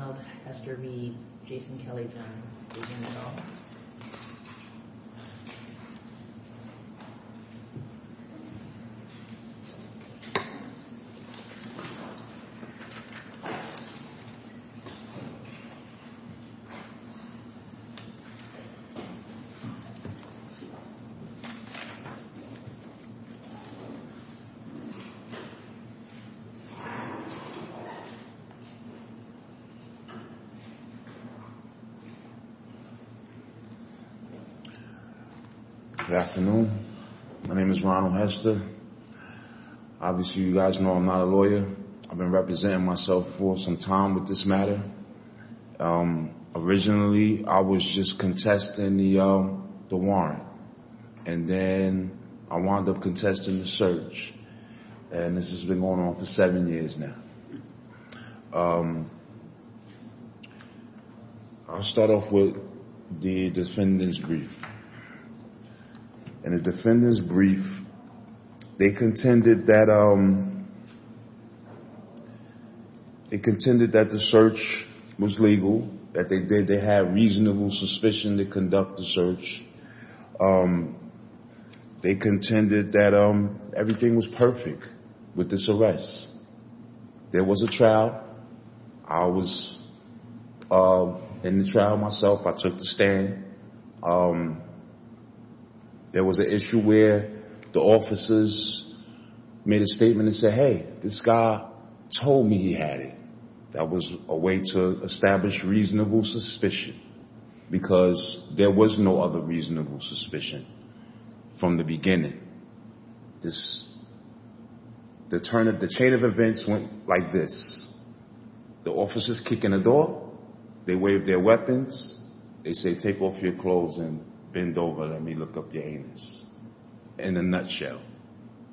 Donald Hester v. Jason Kelly County District Attorney Good afternoon. My name is Ronald Hester. Obviously, you guys know I'm not a lawyer. I've been representing myself for some time with this matter. Originally, I was just contesting the warrant, and then I wound up contesting the search, and this has been going on for seven years now. I'll start off with the defendant's brief. In the defendant's brief, they contended that the search was legal, that they had reasonable suspicion to conduct the search. They contended that everything was perfect with this arrest. There was a trial. I was in the trial myself. I took the stand. There was an issue where the officers made a statement and said, hey, this guy told me he had it. That was a way to establish reasonable suspicion because there was no other reasonable suspicion from the beginning. The chain of events went like this. The officers kick in the door. They wave their weapons. They say, take off your clothes and bend over. Let me look up your anus. In a nutshell,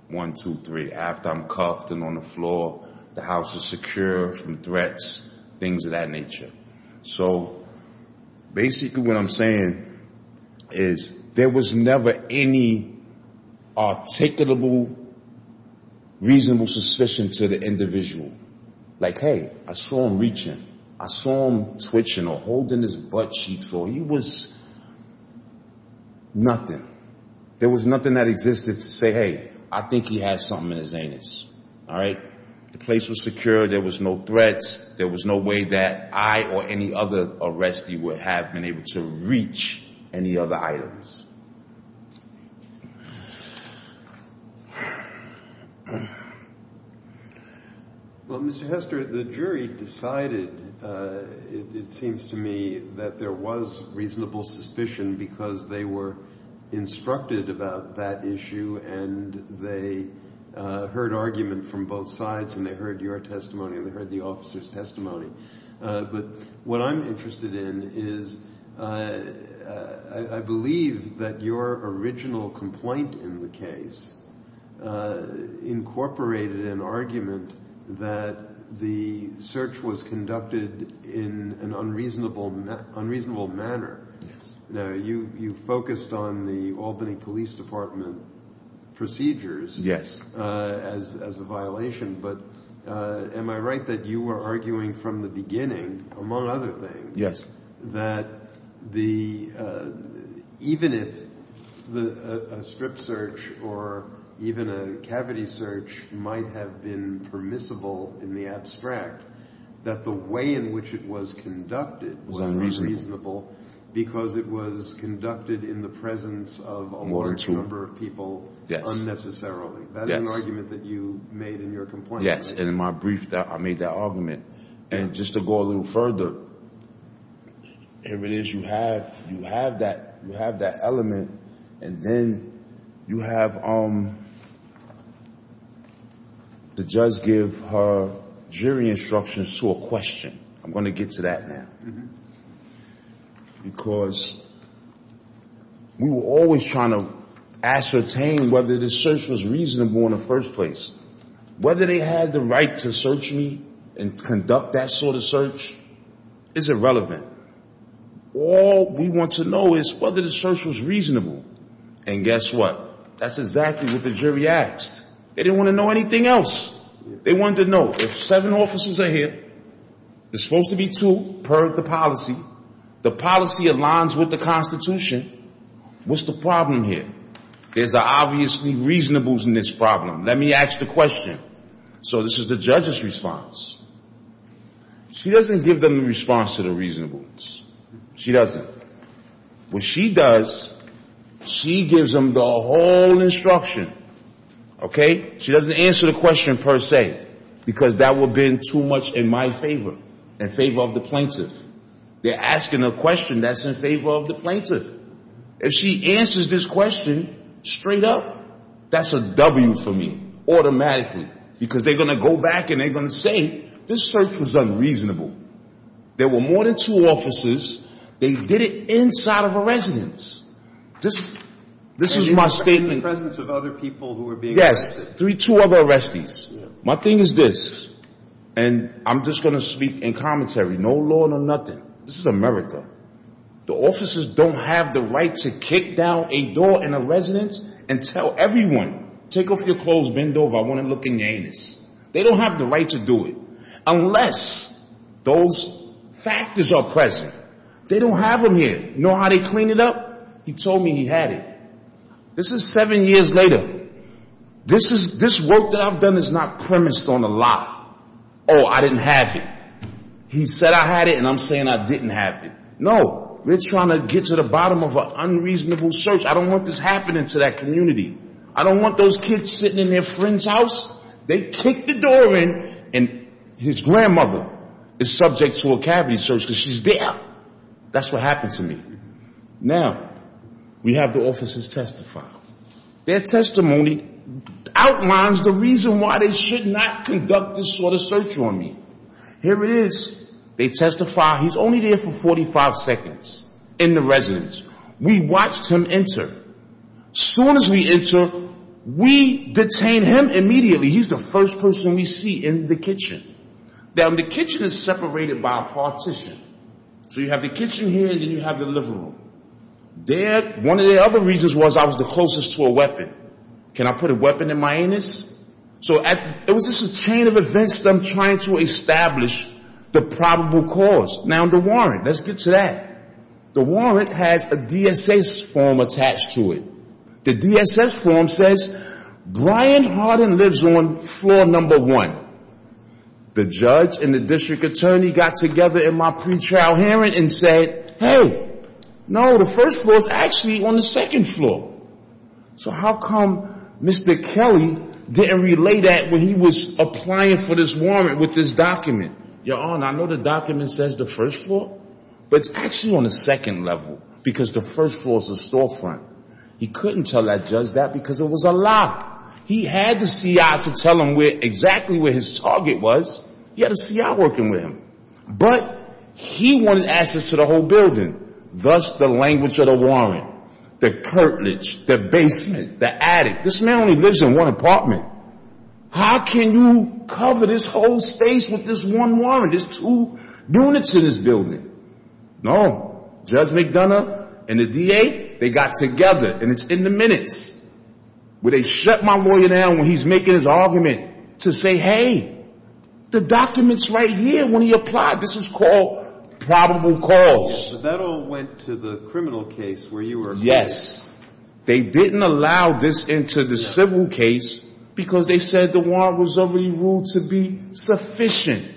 one, two, three, after I'm cuffed and on the floor, the house is secure from threats, things of that nature. Basically, what I'm saying is there was never any articulable, reasonable suspicion to the individual. Like, hey, I saw him reaching. I saw him twitching or holding his buttcheek. He was nothing. There was nothing that existed to say, hey, I think he has something in his anus. The place was secure. There was no threats. There was no way that I or any other arrestee would have been able to reach any other items. Well, Mr. Hester, the jury decided, it seems to me, that there was reasonable suspicion because they were instructed about that issue and they heard argument from both sides and they heard your testimony and they heard the officer's testimony. But what I'm interested in is I believe that your original complaint in the case incorporated an argument that the search was conducted in an unreasonable manner. You focused on the Albany Police Department procedures as a violation, but am I right that you were arguing from the beginning, among other things, that even if a strip search or even a cavity search might have been permissible in the abstract, that the way in which it was conducted was unreasonable because it was conducted in the presence of a large number of people unnecessarily? That is an argument that you made in your complaint. Yes. And in my brief, I made that argument. And just to go a little further, here it is. You have that element and then you have the judge give her jury instructions to a question. I'm going to get to that now. Because we were always trying to ascertain whether the search was reasonable in the first place. Whether they had the right to search me and conduct that sort of search is irrelevant. All we want to know is whether the search was reasonable. And guess what? That's exactly what the jury asked. They didn't want to know anything else. They wanted to know if seven officers are here, there's supposed to be two per the policy, the policy aligns with the Constitution, what's the problem here? There's obviously reasonables in this problem. Let me ask the question. So this is the judge's response. She doesn't give them the response to the reasonables. She doesn't. What she does, she gives them the whole instruction. Okay? She doesn't answer the question per se, because that would have been too much in my favor, in favor of the plaintiff. They're asking a question that's in favor of the plaintiff. If she answers this question straight up, that's a W for me, automatically, because they're going to go back and they're going to say this search was unreasonable. There were more than two officers. They did it inside of a residence. This is my statement. In the presence of other people who were being arrested. Yes. Three, two other arrestees. My thing is this, and I'm just going to speak in commentary, no law, no nothing. This is America. The officers don't have the right to kick down a door in a residence and tell everyone, take off your clothes, bend over, I want to look in your anus. They don't have the right to do it, unless those factors are present. They don't have them here. You know how they clean it up? He told me he had it. This is seven years later. This work that I've done is not premised on a lie. Oh, I didn't have it. He said I had it, and I'm saying I didn't have it. No. They're trying to get to the bottom of an unreasonable search. I don't want this happening to that community. I don't want those kids sitting in their friend's house. They kick the door in and his grandmother is subject to a cavity search because she's there. That's what happened to me. Now we have the officers testify. Their testimony outlines the reason why they should not conduct this sort of search on me. Here it is. They testify. He's only there for 45 seconds in the residence. We watched him enter. Soon as we enter, we detain him immediately. He's the first person we see in the kitchen. Now, the kitchen is separated by a partition. So you have the kitchen here and then you have the living room. There, one of the other reasons was I was the closest to a weapon. Can I put a weapon in my anus? So it was just a chain of events that I'm trying to establish the probable cause. Now, the warrant. Let's get to that. The warrant has a DSS form attached to it. The DSS form says Brian Hardin lives on floor number one. The judge and the district attorney got together in my pre-trial hearing and said, hey, no, the first floor is actually on the second floor. So how come Mr. Kelly didn't relay that when he was applying for this warrant with this document? Your Honor, I know the document says the first floor, but it's actually on the second level because the first floor is the storefront. He couldn't tell that judge that because it was a lock. He had the C.I. to tell him where exactly where his target was. He had a C.I. working with him, but he wanted access to the whole building. Thus, the language of the warrant, the curtilage, the basement, the attic. This man only lives in one apartment. How can you cover this whole space with this one warrant? There's two units in this building. No. Judge McDonough and the D.A., they got together. And it's in the minutes where they shut my lawyer down when he's making his argument to say, hey, the document's right here. When he applied, this is called probable cause. The federal went to the criminal case where you were. Yes. They didn't allow this into the civil case because they said the warrant was already ruled to be sufficient.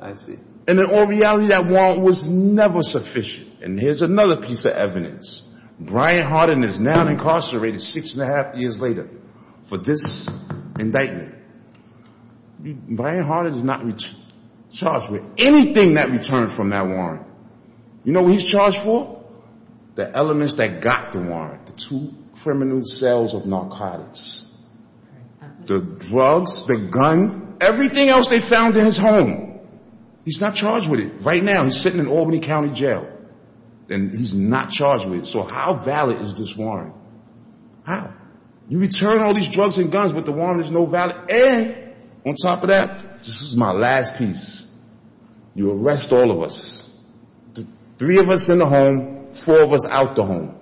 I see. And in all reality, that warrant was never sufficient. And here's another piece of evidence. Brian Harden is now incarcerated six and a half years later for this indictment. Brian Harden is not charged with anything that returned from that warrant. You know what he's charged for? The elements that got the warrant. The two criminal cells of narcotics. The drugs, the gun, everything else they found in his home. He's not charged with it. Right now, he's sitting in Albany County Jail. And he's not charged with it. So how valid is this warrant? How? You return all these drugs and guns, but the warrant is no valid. On top of that, this is my last piece. You arrest all of us. The three of us in the home, four of us out the home,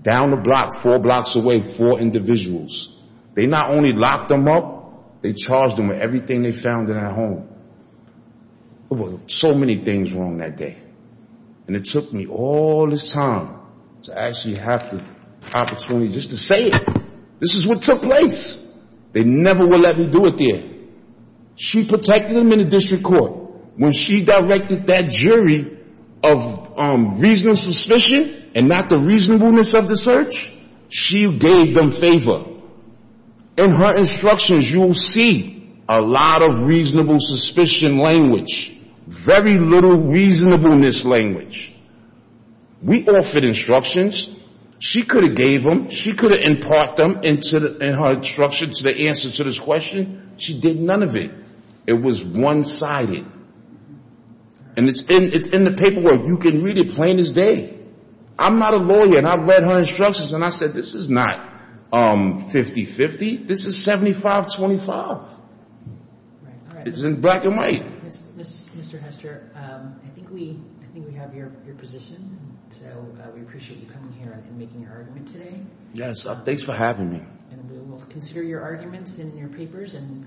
down the block, four blocks away, four individuals. They not only locked them up, they charged them with everything they found in their home. There were so many things wrong that day. And it took me all this time to actually have the opportunity just to say it. This is what took place. They never would let me do it there. She protected them in the district court. When she directed that jury of reasonable suspicion and not the reasonableness of the search, she gave them favor. In her instructions, you will see a lot of reasonable suspicion language. Very little reasonableness language. We offered instructions. She could have gave them. She could have imparted them in her instructions to the answer to this question. She did none of it. It was one-sided. And it's in the paperwork. You can read it plain as day. I'm not a lawyer, and I've read her instructions, and I said this is not 50-50. This is 75-25. It's in black and white. Mr. Hester, I think we have your position. So we appreciate you coming here and making your argument today. Yes. Thanks for having me. And we will consider your arguments in your papers and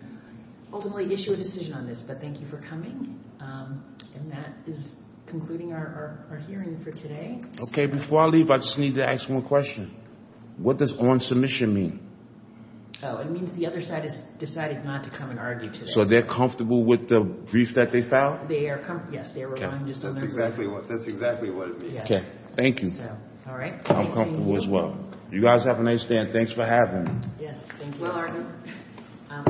ultimately issue a decision on this. But thank you for coming. And that is concluding our hearing for today. Okay. Before I leave, I just need to ask one question. What does on submission mean? Oh, it means the other side has decided not to come and argue today. So they're comfortable with the brief that they filed? Yes, they are. That's exactly what it means. Okay. Thank you. All right. I'm comfortable as well. You guys have a nice day, and thanks for having me. Yes. Thank you. Well, Arden.